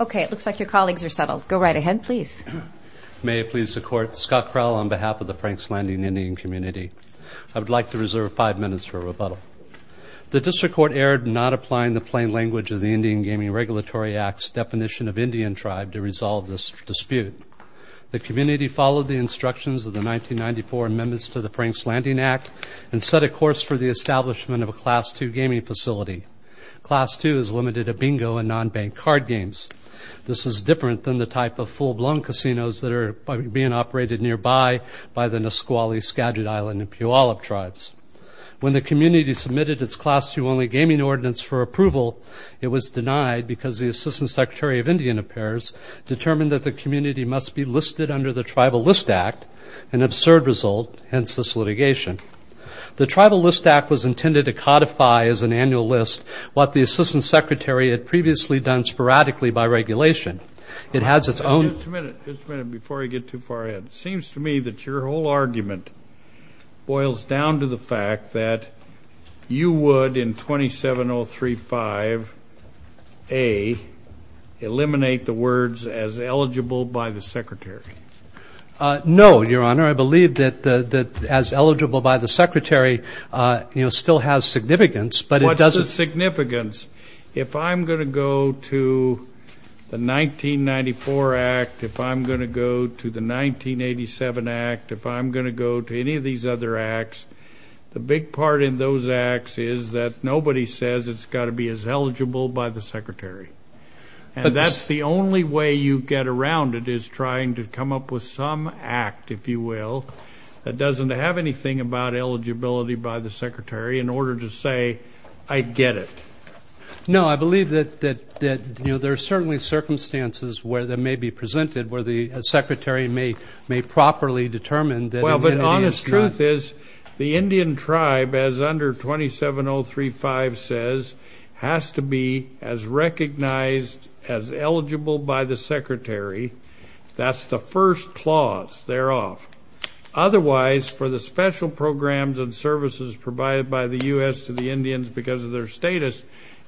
Okay, it looks like your colleagues are settled. Go right ahead, please. May it please the Court, Scott Krell on behalf of the Franks Landing Indian Cmty. I would like to reserve five minutes for rebuttal. The District Court erred in not applying the plain language of the Indian Gaming Regulatory Act's definition of Indian tribe to resolve this dispute. The Cmty followed the instructions of the 1994 amendments to the Franks Landing Act and set a course for the establishment of a Class II gaming facility. Class II is limited to bingo and non-bank card games. This is different than the type of full-blown casinos that are being operated nearby by the Nisqually, Skagit Island, and Puyallup tribes. When the Cmty submitted its Class II-only gaming ordinance for approval, it was denied because the Assistant Secretary of Indian Affairs determined that the Cmty must be listed under the Tribal List Act, an absurd result, hence this litigation. The Tribal List Act was intended to codify as an annual list what the Assistant Secretary had previously done sporadically by regulation. It has its own. Just a minute. Just a minute before I get too far ahead. It seems to me that your whole argument boils down to the fact that you would, in 27035A, eliminate the words as eligible by the Secretary. No, Your Honor. I believe that as eligible by the Secretary still has significance, but it doesn't. What's the significance? If I'm going to go to the 1994 Act, if I'm going to go to the 1987 Act, if I'm going to go to any of these other Acts, the big part in those Acts is that nobody says it's got to be as eligible by the Secretary. And that's the only way you get around it is trying to come up with some Act, if you will, that doesn't have anything about eligibility by the Secretary in order to say, I get it. No, I believe that, you know, there are certainly circumstances where that may be presented where the Secretary may properly determine that an Indian is not. The truth is the Indian tribe, as under 27035 says, has to be as recognized as eligible by the Secretary. That's the first clause thereof. Otherwise, for the special programs and services provided by the U.S. to the Indians because of their status,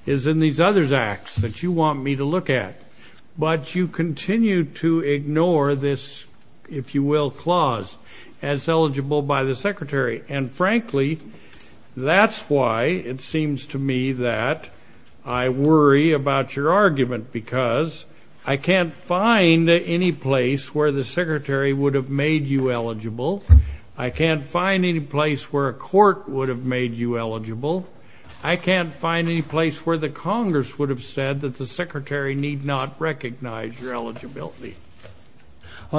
is in these other Acts that you want me to look at. But you continue to ignore this, if you will, clause as eligible by the Secretary. And frankly, that's why it seems to me that I worry about your argument, because I can't find any place where the Secretary would have made you eligible. I can't find any place where a court would have made you eligible. I can't find any place where the Congress would have said that the Secretary need not recognize your eligibility.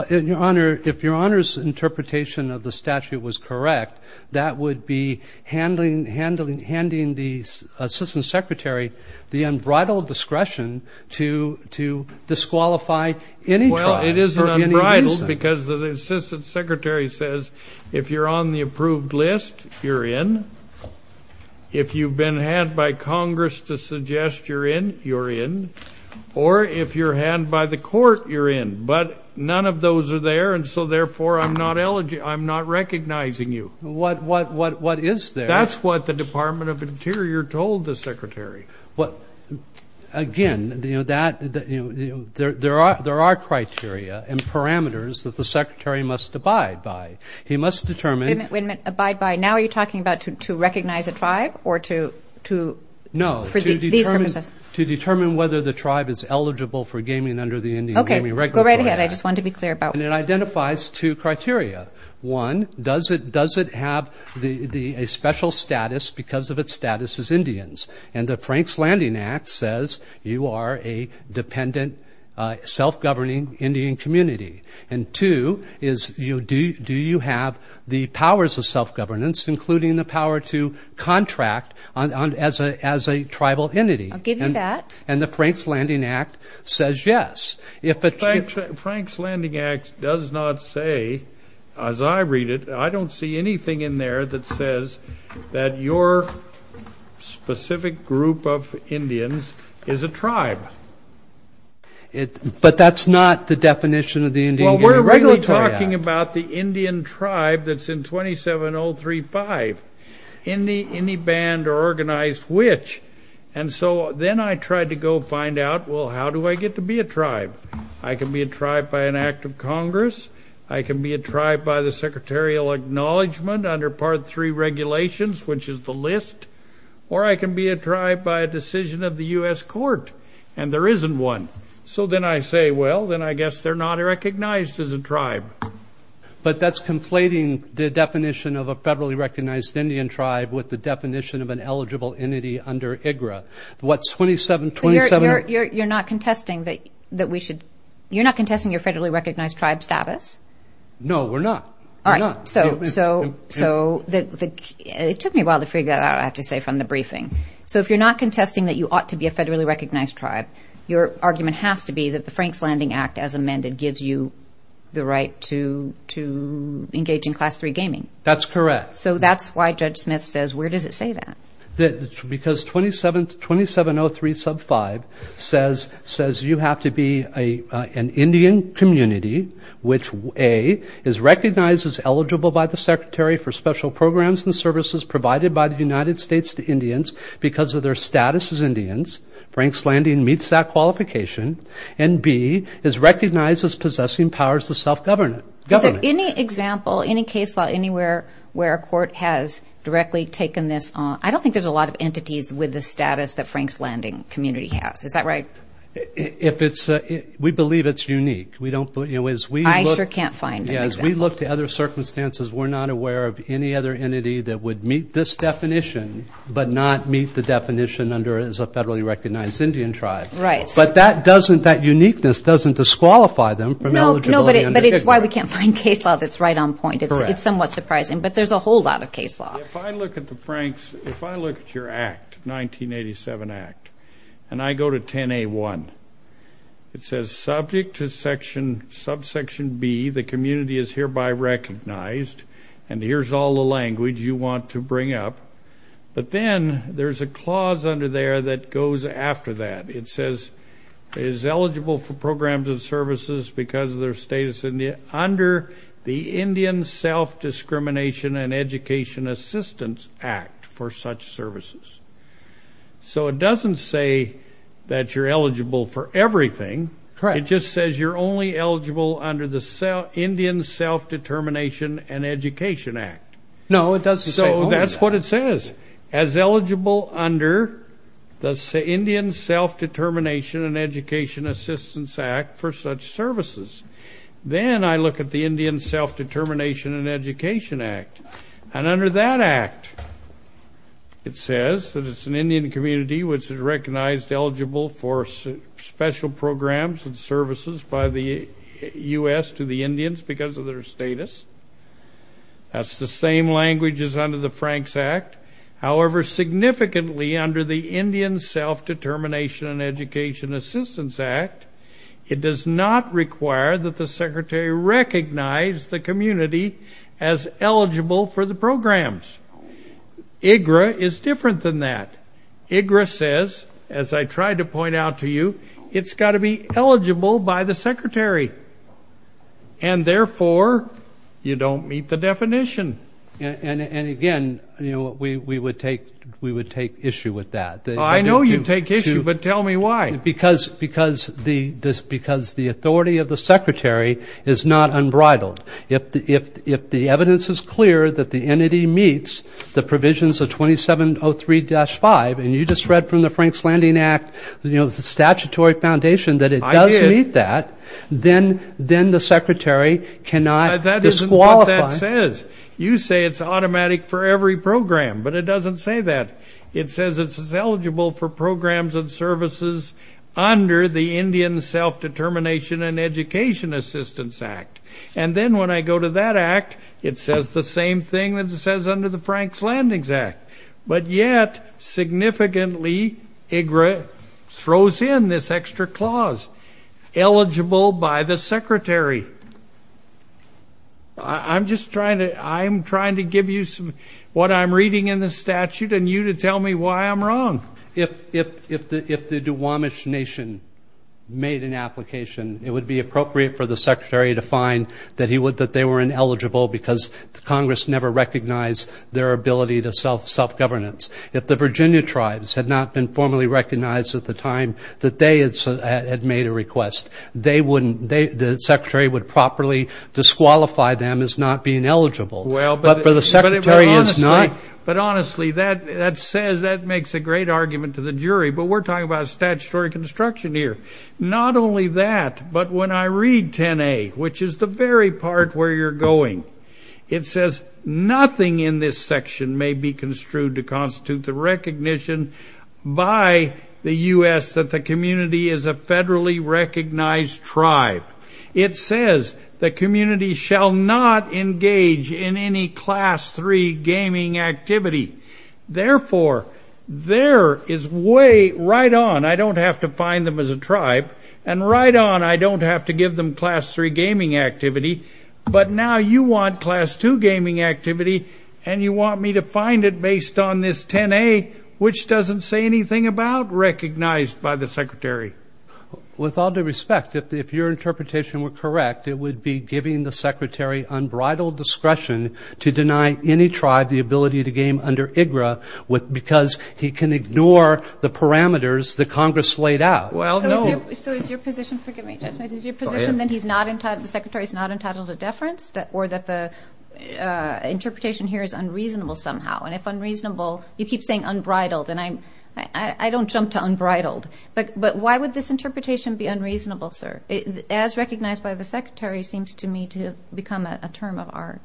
Your Honor, if Your Honor's interpretation of the statute was correct, that would be handing the Assistant Secretary the unbridled discretion to disqualify any tribe. It is unbridled because the Assistant Secretary says, if you're on the approved list, you're in. If you've been had by Congress to suggest you're in, you're in. Or if you're had by the court, you're in. But none of those are there, and so, therefore, I'm not recognizing you. What is there? That's what the Department of Interior told the Secretary. Again, there are criteria and parameters that the Secretary must abide by. He must determine. Wait a minute, abide by. Now are you talking about to recognize a tribe or to, for these purposes? No, to determine whether the tribe is eligible for gaming under the Indian Gaming Regulatory Act. Okay, go right ahead. I just wanted to be clear about that. And it identifies two criteria. One, does it have a special status because of its status as Indians? And the Franks Landing Act says you are a dependent, self-governing Indian community. And two is, do you have the powers of self-governance, including the power to contract as a tribal entity? I'll give you that. And the Franks Landing Act says yes. The Franks Landing Act does not say, as I read it, I don't see anything in there that says that your specific group of Indians is a tribe. But that's not the definition of the Indian Gaming Regulatory Act. Well, we're really talking about the Indian tribe that's in 27035. Any band or organized witch. And so then I tried to go find out, well, how do I get to be a tribe? I can be a tribe by an act of Congress. I can be a tribe by the secretarial acknowledgement under Part 3 regulations, which is the list. Or I can be a tribe by a decision of the U.S. Court, and there isn't one. So then I say, well, then I guess they're not recognized as a tribe. But that's conflating the definition of a federally recognized Indian tribe with the definition of an eligible entity under IGRA. What's 2727? You're not contesting your federally recognized tribe status? No, we're not. All right. So it took me a while to figure that out, I have to say, from the briefing. So if you're not contesting that you ought to be a federally recognized tribe, your argument has to be that the Franks Landing Act, as amended, gives you the right to engage in Class 3 gaming. That's correct. So that's why Judge Smith says, where does it say that? Because 2703 sub 5 says you have to be an Indian community, which A, is recognized as eligible by the Secretary for special programs and services Franks Landing meets that qualification, and B, is recognized as possessing powers of self-government. So any example, any case law, anywhere where a court has directly taken this on, I don't think there's a lot of entities with the status that Franks Landing community has. Is that right? We believe it's unique. I sure can't find an example. As we look to other circumstances, we're not aware of any other entity that would meet this definition but not meet the definition under as a federally recognized Indian tribe. Right. But that doesn't, that uniqueness doesn't disqualify them from eligibility. No, but it's why we can't find case law that's right on point. It's somewhat surprising. But there's a whole lot of case law. If I look at the Franks, if I look at your act, 1987 act, and I go to 10A1, it says subject to subsection B, the community is hereby recognized, and here's all the language you want to bring up. But then there's a clause under there that goes after that. It says is eligible for programs and services because of their status under the Indian Self-Discrimination and Education Assistance Act for such services. So it doesn't say that you're eligible for everything. Correct. It just says you're only eligible under the Indian Self-Determination and Education Act. No, it doesn't say that. So that's what it says, as eligible under the Indian Self-Determination and Education Assistance Act for such services. Then I look at the Indian Self-Determination and Education Act, and under that act it says that it's an Indian community which is recognized eligible for special programs and services by the U.S. to the Indians because of their status. That's the same language as under the Franks Act. However, significantly under the Indian Self-Determination and Education Assistance Act, it does not require that the secretary recognize the community as eligible for the programs. IGRA is different than that. IGRA says, as I tried to point out to you, it's got to be eligible by the secretary, and therefore you don't meet the definition. And again, you know, we would take issue with that. I know you take issue, but tell me why. Because the authority of the secretary is not unbridled. If the evidence is clear that the entity meets the provisions of 2703-5, and you just read from the Franks Landing Act, you know, the statutory foundation that it does meet that, then the secretary cannot disqualify. That isn't what that says. You say it's automatic for every program, but it doesn't say that. It says it's eligible for programs and services under the Indian Self-Determination and Education Assistance Act. And then when I go to that act, it says the same thing that it says under the Franks Landing Act. But yet, significantly, IGRA throws in this extra clause, eligible by the secretary. I'm just trying to give you what I'm reading in the statute and you to tell me why I'm wrong. If the Duwamish Nation made an application, it would be appropriate for the secretary to find that they were ineligible because Congress never recognized their ability to self-governance. If the Virginia tribes had not been formally recognized at the time that they had made a request, the secretary would properly disqualify them as not being eligible. Well, but the secretary is not. But honestly, that says, that makes a great argument to the jury. But we're talking about statutory construction here. Not only that, but when I read 10A, which is the very part where you're going, it says nothing in this section may be construed to constitute the recognition by the U.S. that the community is a federally recognized tribe. It says the community shall not engage in any Class 3 gaming activity. Therefore, there is way right on, I don't have to find them as a tribe, and right on, I don't have to give them Class 3 gaming activity. But now you want Class 2 gaming activity and you want me to find it based on this 10A, which doesn't say anything about recognized by the secretary. With all due respect, if your interpretation were correct, it would be giving the secretary unbridled discretion to deny any tribe the ability to game under IGRA because he can ignore the parameters that Congress laid out. Well, no. So is your position, forgive me, Judge Mead, is your position that the secretary is not entitled to deference or that the interpretation here is unreasonable somehow? And if unreasonable, you keep saying unbridled. And I don't jump to unbridled. But why would this interpretation be unreasonable, sir? As recognized by the secretary seems to me to become a term of art.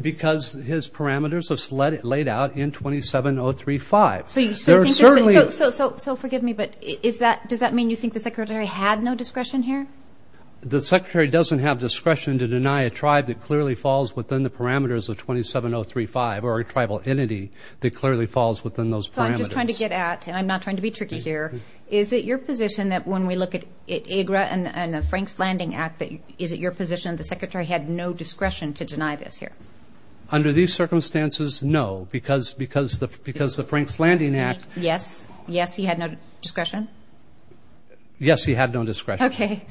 Because his parameters are laid out in 27035. So forgive me, but does that mean you think the secretary had no discretion here? The secretary doesn't have discretion to deny a tribe that clearly falls within the parameters of 27035 or a tribal entity that clearly falls within those parameters. So I'm just trying to get at, and I'm not trying to be tricky here, is it your position that when we look at IGRA and the Franks Landing Act, is it your position the secretary had no discretion to deny this here? Under these circumstances, no. Because the Franks Landing Act. Yes? Yes, he had no discretion? Yes, he had no discretion. Okay.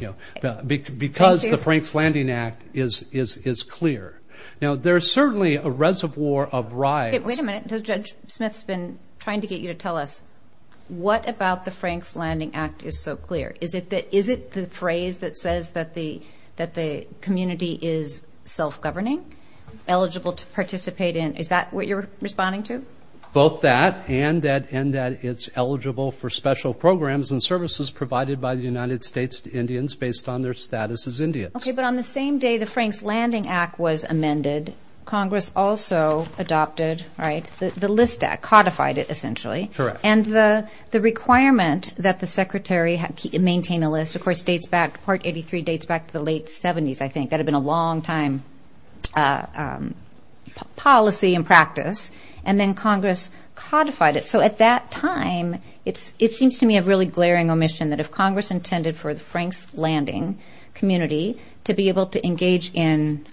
Because the Franks Landing Act is clear. Now, there is certainly a reservoir of rights. Wait a minute. Judge Smith's been trying to get you to tell us, what about the Franks Landing Act is so clear? Is it the phrase that says that the community is self-governing, eligible to participate in? Is that what you're responding to? Both that and that it's eligible for special programs and services provided by the United States to Indians based on their status as Indians. Okay. Well, but on the same day the Franks Landing Act was amended, Congress also adopted, right, the List Act, codified it essentially. Correct. And the requirement that the secretary maintain a list, of course, dates back, Part 83 dates back to the late 70s, I think. That had been a long-time policy and practice. And then Congress codified it. So at that time, it seems to me a really glaring omission that if Congress intended for the Franks Landing community to be able to engage in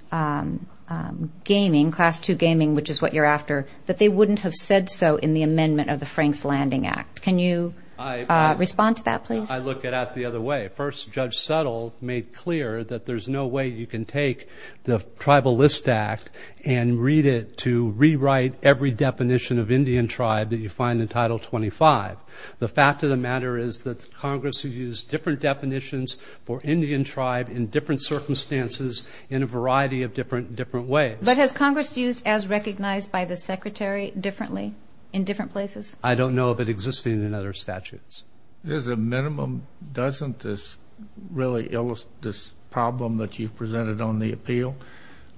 gaming, Class II gaming, which is what you're after, that they wouldn't have said so in the amendment of the Franks Landing Act. Can you respond to that, please? I look at it the other way. First, Judge Settle made clear that there's no way you can take the Tribal List Act and read it to rewrite every definition of Indian tribe that you find in Title 25. The fact of the matter is that Congress has used different definitions for Indian tribe in different circumstances in a variety of different ways. But has Congress used as recognized by the secretary differently in different places? I don't know of it existing in other statutes. There's a minimum. Doesn't this problem that you've presented on the appeal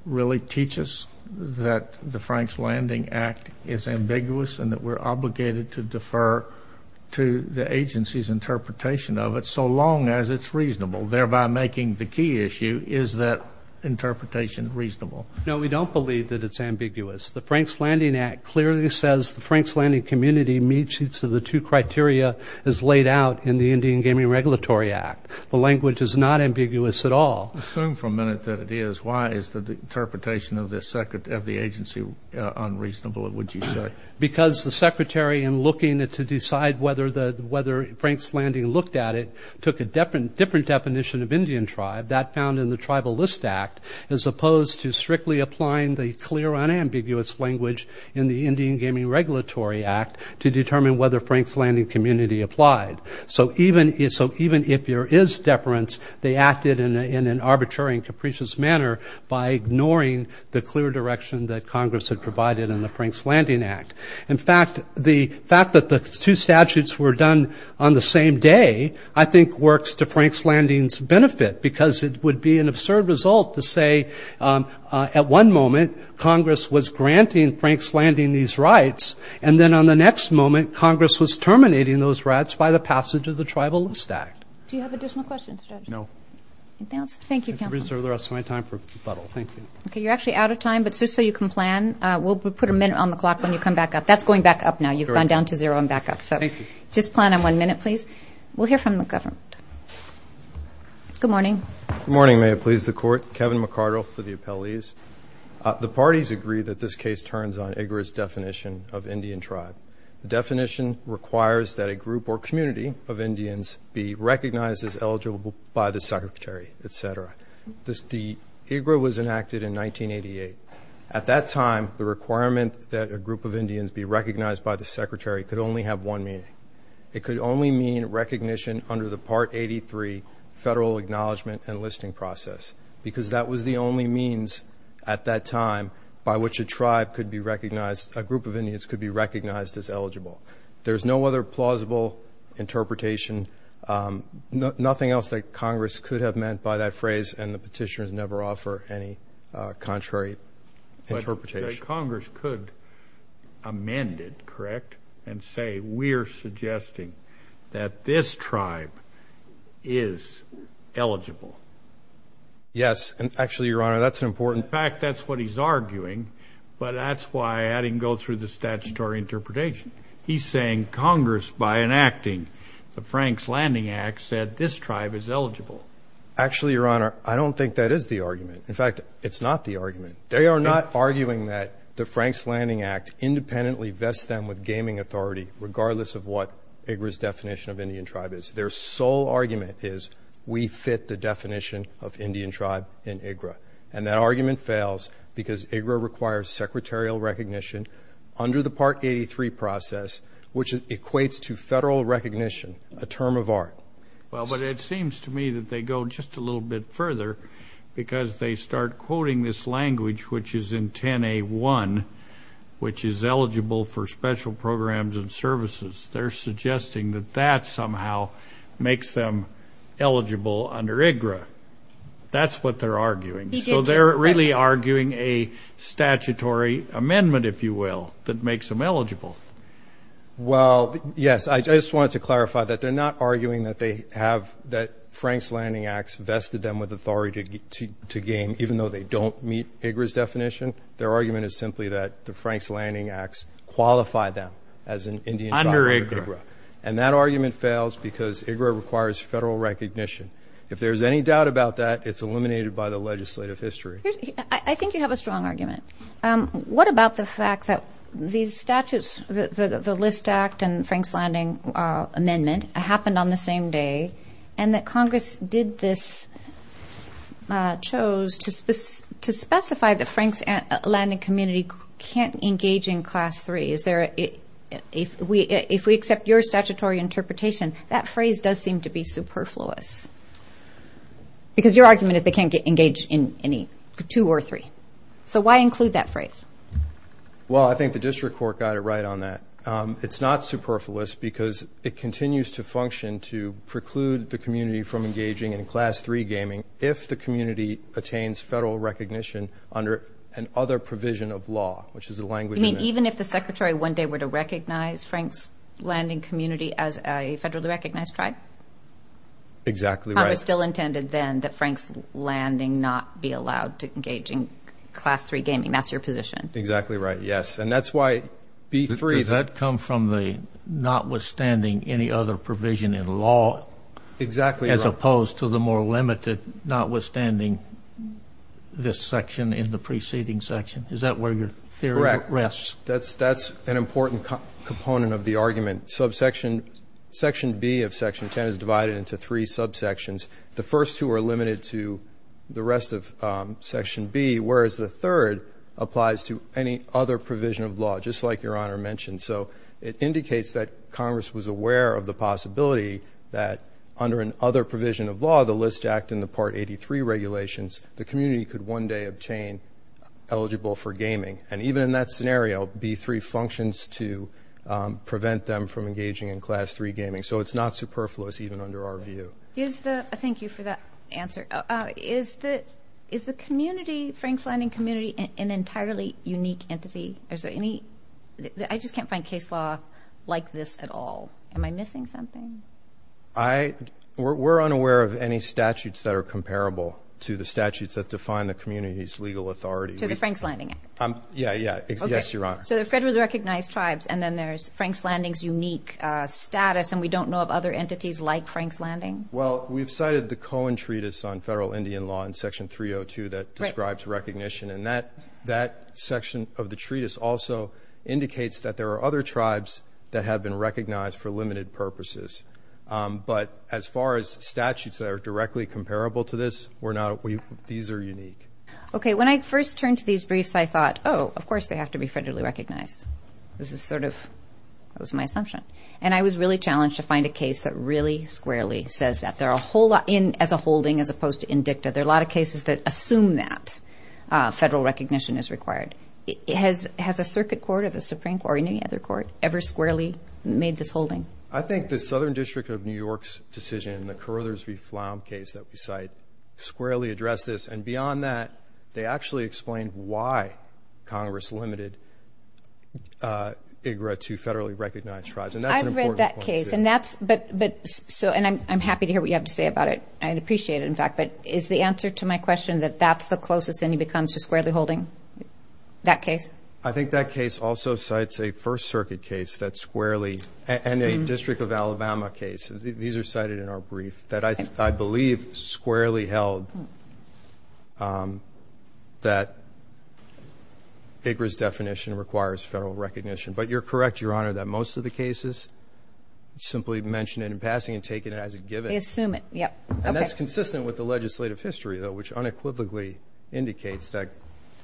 really teach us that the Franks Landing Act is ambiguous and that we're obligated to defer to the agency's interpretation of it so long as it's reasonable, thereby making the key issue, is that interpretation reasonable? No, we don't believe that it's ambiguous. The Franks Landing Act clearly says the Franks Landing community meets each of the two criteria as laid out in the Indian Gaming Regulatory Act. The language is not ambiguous at all. Assume for a minute that it is. Why is the interpretation of the agency unreasonable, would you say? Because the secretary, in looking to decide whether Franks Landing looked at it, took a different definition of Indian tribe, that found in the Tribal List Act, as opposed to strictly applying the clear, unambiguous language in the Indian Gaming Regulatory Act to determine whether Franks Landing community applied. So even if there is deference, they acted in an arbitrary and capricious manner by ignoring the clear direction that Congress had provided in the Franks Landing Act. In fact, the fact that the two statutes were done on the same day I think works to Franks Landing's benefit because it would be an absurd result to say at one moment Congress was granting Franks Landing these rights and then on the next moment Congress was terminating those rights by the passage of the Tribal List Act. Do you have additional questions, Judge? No. Thank you, counsel. I reserve the rest of my time for rebuttal. Thank you. Okay. You're actually out of time, but just so you can plan, we'll put a minute on the clock when you come back up. That's going back up now. You've gone down to zero and back up. So just plan on one minute, please. We'll hear from the government. Good morning. Good morning. May it please the Court. Kevin McCardle for the appellees. The parties agree that this case turns on IGRA's definition of Indian tribe. The definition requires that a group or community of Indians be recognized as eligible by the Secretary, et cetera. The IGRA was enacted in 1988. At that time, the requirement that a group of Indians be recognized by the Secretary could only have one meaning. It could only mean recognition under the Part 83 federal acknowledgement and listing process because that was the only means at that time by which a tribe could be recognized, a group of Indians could be recognized as eligible. There's no other plausible interpretation, nothing else that Congress could have meant by that phrase, and the petitioners never offer any contrary interpretation. Congress could amend it, correct, and say we're suggesting that this tribe is eligible. Yes, and actually, Your Honor, that's important. In fact, that's what he's arguing, but that's why I had him go through the statutory interpretation. He's saying Congress, by enacting the Franks Landing Act, said this tribe is eligible. Actually, Your Honor, I don't think that is the argument. In fact, it's not the argument. They are not arguing that the Franks Landing Act independently vests them with gaming authority regardless of what IGRA's definition of Indian tribe is. Their sole argument is we fit the definition of Indian tribe in IGRA, and that argument fails because IGRA requires secretarial recognition under the Part 83 process, which equates to federal recognition, a term of art. Well, but it seems to me that they go just a little bit further because they start quoting this language, which is in 10A1, which is eligible for special programs and services. They're suggesting that that somehow makes them eligible under IGRA. That's what they're arguing. So they're really arguing a statutory amendment, if you will, that makes them eligible. Well, yes. I just wanted to clarify that they're not arguing that they have the Franks Landing Act vested them with authority to game even though they don't meet IGRA's definition. Their argument is simply that the Franks Landing Act qualifies them as an Indian tribe under IGRA. Under IGRA. And that argument fails because IGRA requires federal recognition. If there's any doubt about that, it's eliminated by the legislative history. I think you have a strong argument. What about the fact that these statutes, the List Act and Franks Landing Amendment, happened on the same day and that Congress did this, chose to specify that Franks Landing community can't engage in Class 3? If we accept your statutory interpretation, that phrase does seem to be superfluous. Because your argument is they can't engage in any two or three. So why include that phrase? Well, I think the district court got it right on that. It's not superfluous because it continues to function to preclude the community from engaging in Class 3 gaming if the community attains federal recognition under another provision of law, which is a language amendment. You mean even if the Secretary one day were to recognize Franks Landing community as a federally recognized tribe? Exactly right. So Congress still intended then that Franks Landing not be allowed to engage in Class 3 gaming. That's your position. Exactly right, yes. And that's why B3. Does that come from the notwithstanding any other provision in law? Exactly right. As opposed to the more limited notwithstanding this section in the preceding section. Is that where your theory rests? Correct. That's an important component of the argument. Section B of Section 10 is divided into three subsections. The first two are limited to the rest of Section B, whereas the third applies to any other provision of law, just like Your Honor mentioned. So it indicates that Congress was aware of the possibility that under another provision of law, the List Act and the Part 83 regulations, the community could one day obtain eligible for gaming. And even in that scenario, B3 functions to prevent them from engaging in Class 3 gaming. So it's not superfluous even under our view. Thank you for that answer. Is the community, Franks Landing community, an entirely unique entity? I just can't find case law like this at all. Am I missing something? We're unaware of any statutes that are comparable to the statutes that define the community's legal authority. To the Franks Landing Act? Yeah, yeah. Yes, Your Honor. So they're federally recognized tribes, and then there's Franks Landing's unique status, and we don't know of other entities like Franks Landing? Well, we've cited the Cohen Treatise on federal Indian law in Section 302 that describes recognition, and that section of the treatise also indicates that there are other tribes that have been recognized for limited purposes. But as far as statutes that are directly comparable to this, these are unique. Okay. When I first turned to these briefs, I thought, oh, of course they have to be federally recognized. This is sort of my assumption. And I was really challenged to find a case that really squarely says that. As a holding as opposed to in dicta, there are a lot of cases that assume that federal recognition is required. Has a circuit court or the Supreme Court or any other court ever squarely made this holding? I think the Southern District of New York's decision, the Carothers v. Flom case that we cite, squarely addressed this. And beyond that, they actually explained why Congress limited IGRA to federally recognized tribes. And that's an important point, too. I've read that case, and that's – and I'm happy to hear what you have to say about it. I'd appreciate it, in fact. But is the answer to my question that that's the closest anything comes to squarely holding that case? I think that case also cites a First Circuit case that squarely – and a District of Alabama case. These are cited in our brief. That I believe squarely held that IGRA's definition requires federal recognition. But you're correct, Your Honor, that most of the cases simply mention it in passing and take it as a given. They assume it. And that's consistent with the legislative history, though, which unequivocally indicates that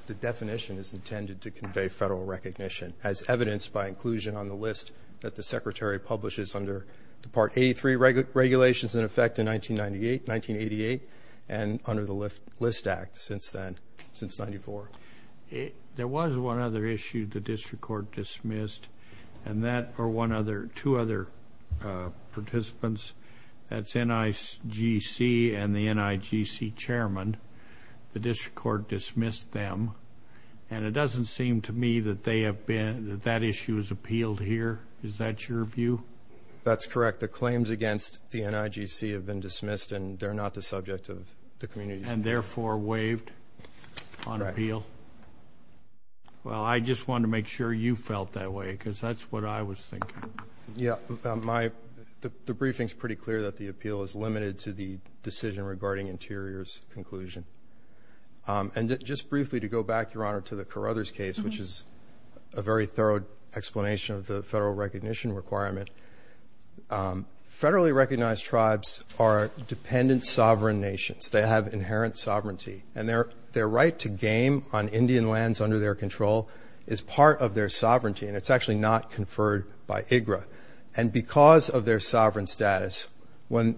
the definition is intended to convey federal recognition, as evidenced by inclusion on the list that the Secretary publishes under the Part 83 regulations in effect in 1998, 1988, and under the List Act since then, since 1994. There was one other issue the district court dismissed, and that – or one other – two other participants, that's NIGC and the NIGC chairman, the district court dismissed them. And it doesn't seem to me that they have been – that that issue is appealed here. Is that your view? That's correct. The claims against the NIGC have been dismissed, and they're not the subject of the community's review. And therefore waived on appeal? Right. Well, I just wanted to make sure you felt that way, because that's what I was thinking. Yeah. My – the briefing's pretty clear that the appeal is limited to the decision regarding Interior's conclusion. And just briefly, to go back, Your Honor, to the Carruthers case, which is a very thorough explanation of the federal recognition requirement, federally recognized tribes are dependent sovereign nations. They have inherent sovereignty. And their right to game on Indian lands under their control is part of their sovereignty, and it's actually not conferred by IGRA. And because of their sovereign status, when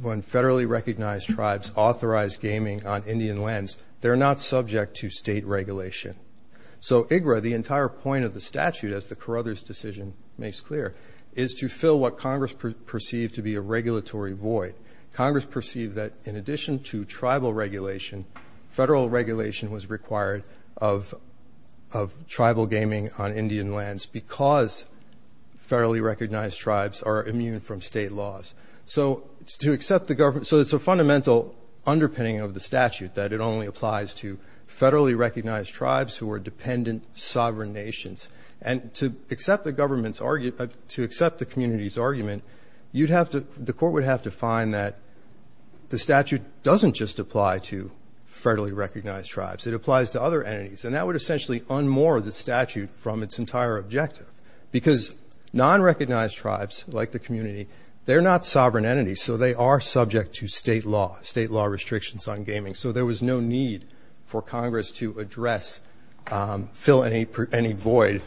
federally recognized tribes authorize gaming on Indian lands, they're not subject to state regulation. So IGRA, the entire point of the statute, as the Carruthers decision makes clear, is to fill what Congress perceived to be a regulatory void. Congress perceived that in addition to tribal regulation, federal regulation was required of tribal gaming on Indian lands because federally recognized tribes are immune from state laws. So to accept the government – so it's a fundamental underpinning of the statute that it only applies to federally recognized tribes who are dependent sovereign nations. And to accept the government's – to accept the community's argument, you'd have to – the court would have to find that the statute doesn't just apply to federally recognized tribes. It applies to other entities. And that would essentially unmoor the statute from its entire objective because non-recognized tribes, like the community, they're not sovereign entities, so they are subject to state law, state law restrictions on gaming. So there was no need for Congress to address – fill any void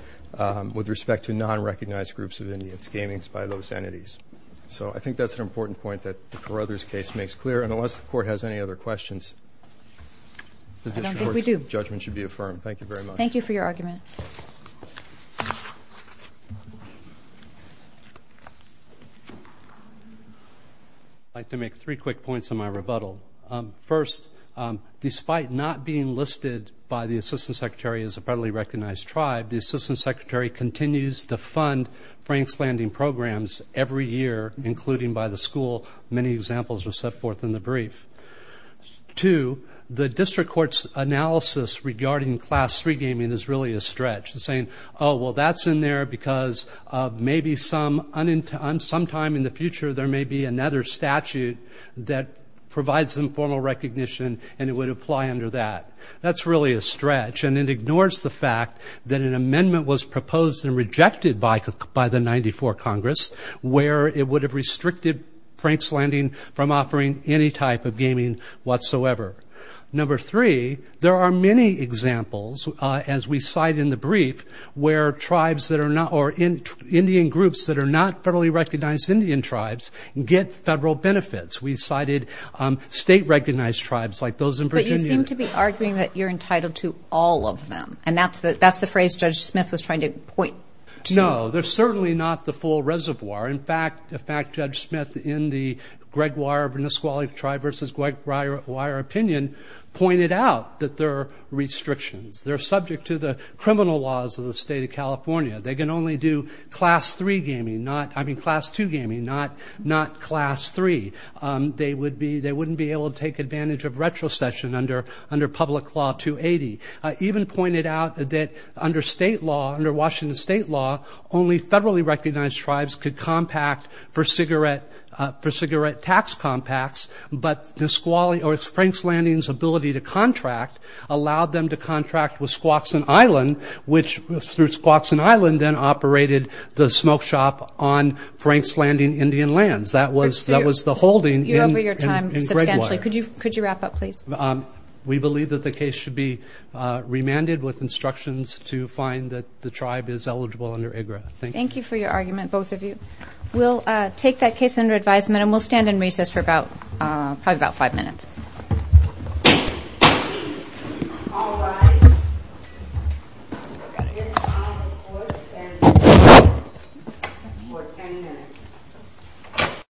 with respect to non-recognized groups of Indians gaming by those entities. So I think that's an important point that the Carruthers case makes clear. And unless the Court has any other questions, this Court's judgment should be affirmed. Thank you very much. Thank you for your argument. I'd like to make three quick points in my rebuttal. First, despite not being listed by the Assistant Secretary as a federally recognized tribe, the Assistant Secretary continues to fund Frank's Landing programs every year, including by the school. Many examples are set forth in the brief. Two, the district court's analysis regarding Class III gaming is really a stretch. It's saying, oh, well, that's in there because maybe sometime in the future, there may be another statute that provides informal recognition, and it would apply under that. That's really a stretch. And it ignores the fact that an amendment was proposed and rejected by the 94 Congress, where it would have restricted Frank's Landing from offering any type of gaming whatsoever. Number three, there are many examples, as we cite in the brief, where tribes that are not or Indian groups that are not federally recognized Indian tribes get federal benefits. We cited state-recognized tribes like those in Virginia. But you seem to be arguing that you're entitled to all of them, and that's the phrase Judge Smith was trying to point to. No, they're certainly not the full reservoir. In fact, Judge Smith, in the Greg Weir, Vernisqually tribe versus Greg Weir opinion, pointed out that there are restrictions. They're subject to the criminal laws of the state of California. They can only do Class II gaming, not Class III. They wouldn't be able to take advantage of retrocession under public law 280. Even pointed out that under state law, under Washington state law, only federally recognized tribes could compact for cigarette tax compacts, but Frank's Landing's ability to contract allowed them to contract with Squaxin Island, which through Squaxin Island then operated the smoke shop on Frank's Landing Indian lands. That was the holding in Greg Weir. You're over your time substantially. Could you wrap up, please? We believe that the case should be remanded with instructions to find that the tribe is eligible under IGRA. Thank you. Thank you for your argument, both of you. We'll take that case under advisement, and we'll stand in recess for probably about five minutes. All rise. We're going to hear the final report, and we'll stand in recess for 10 minutes.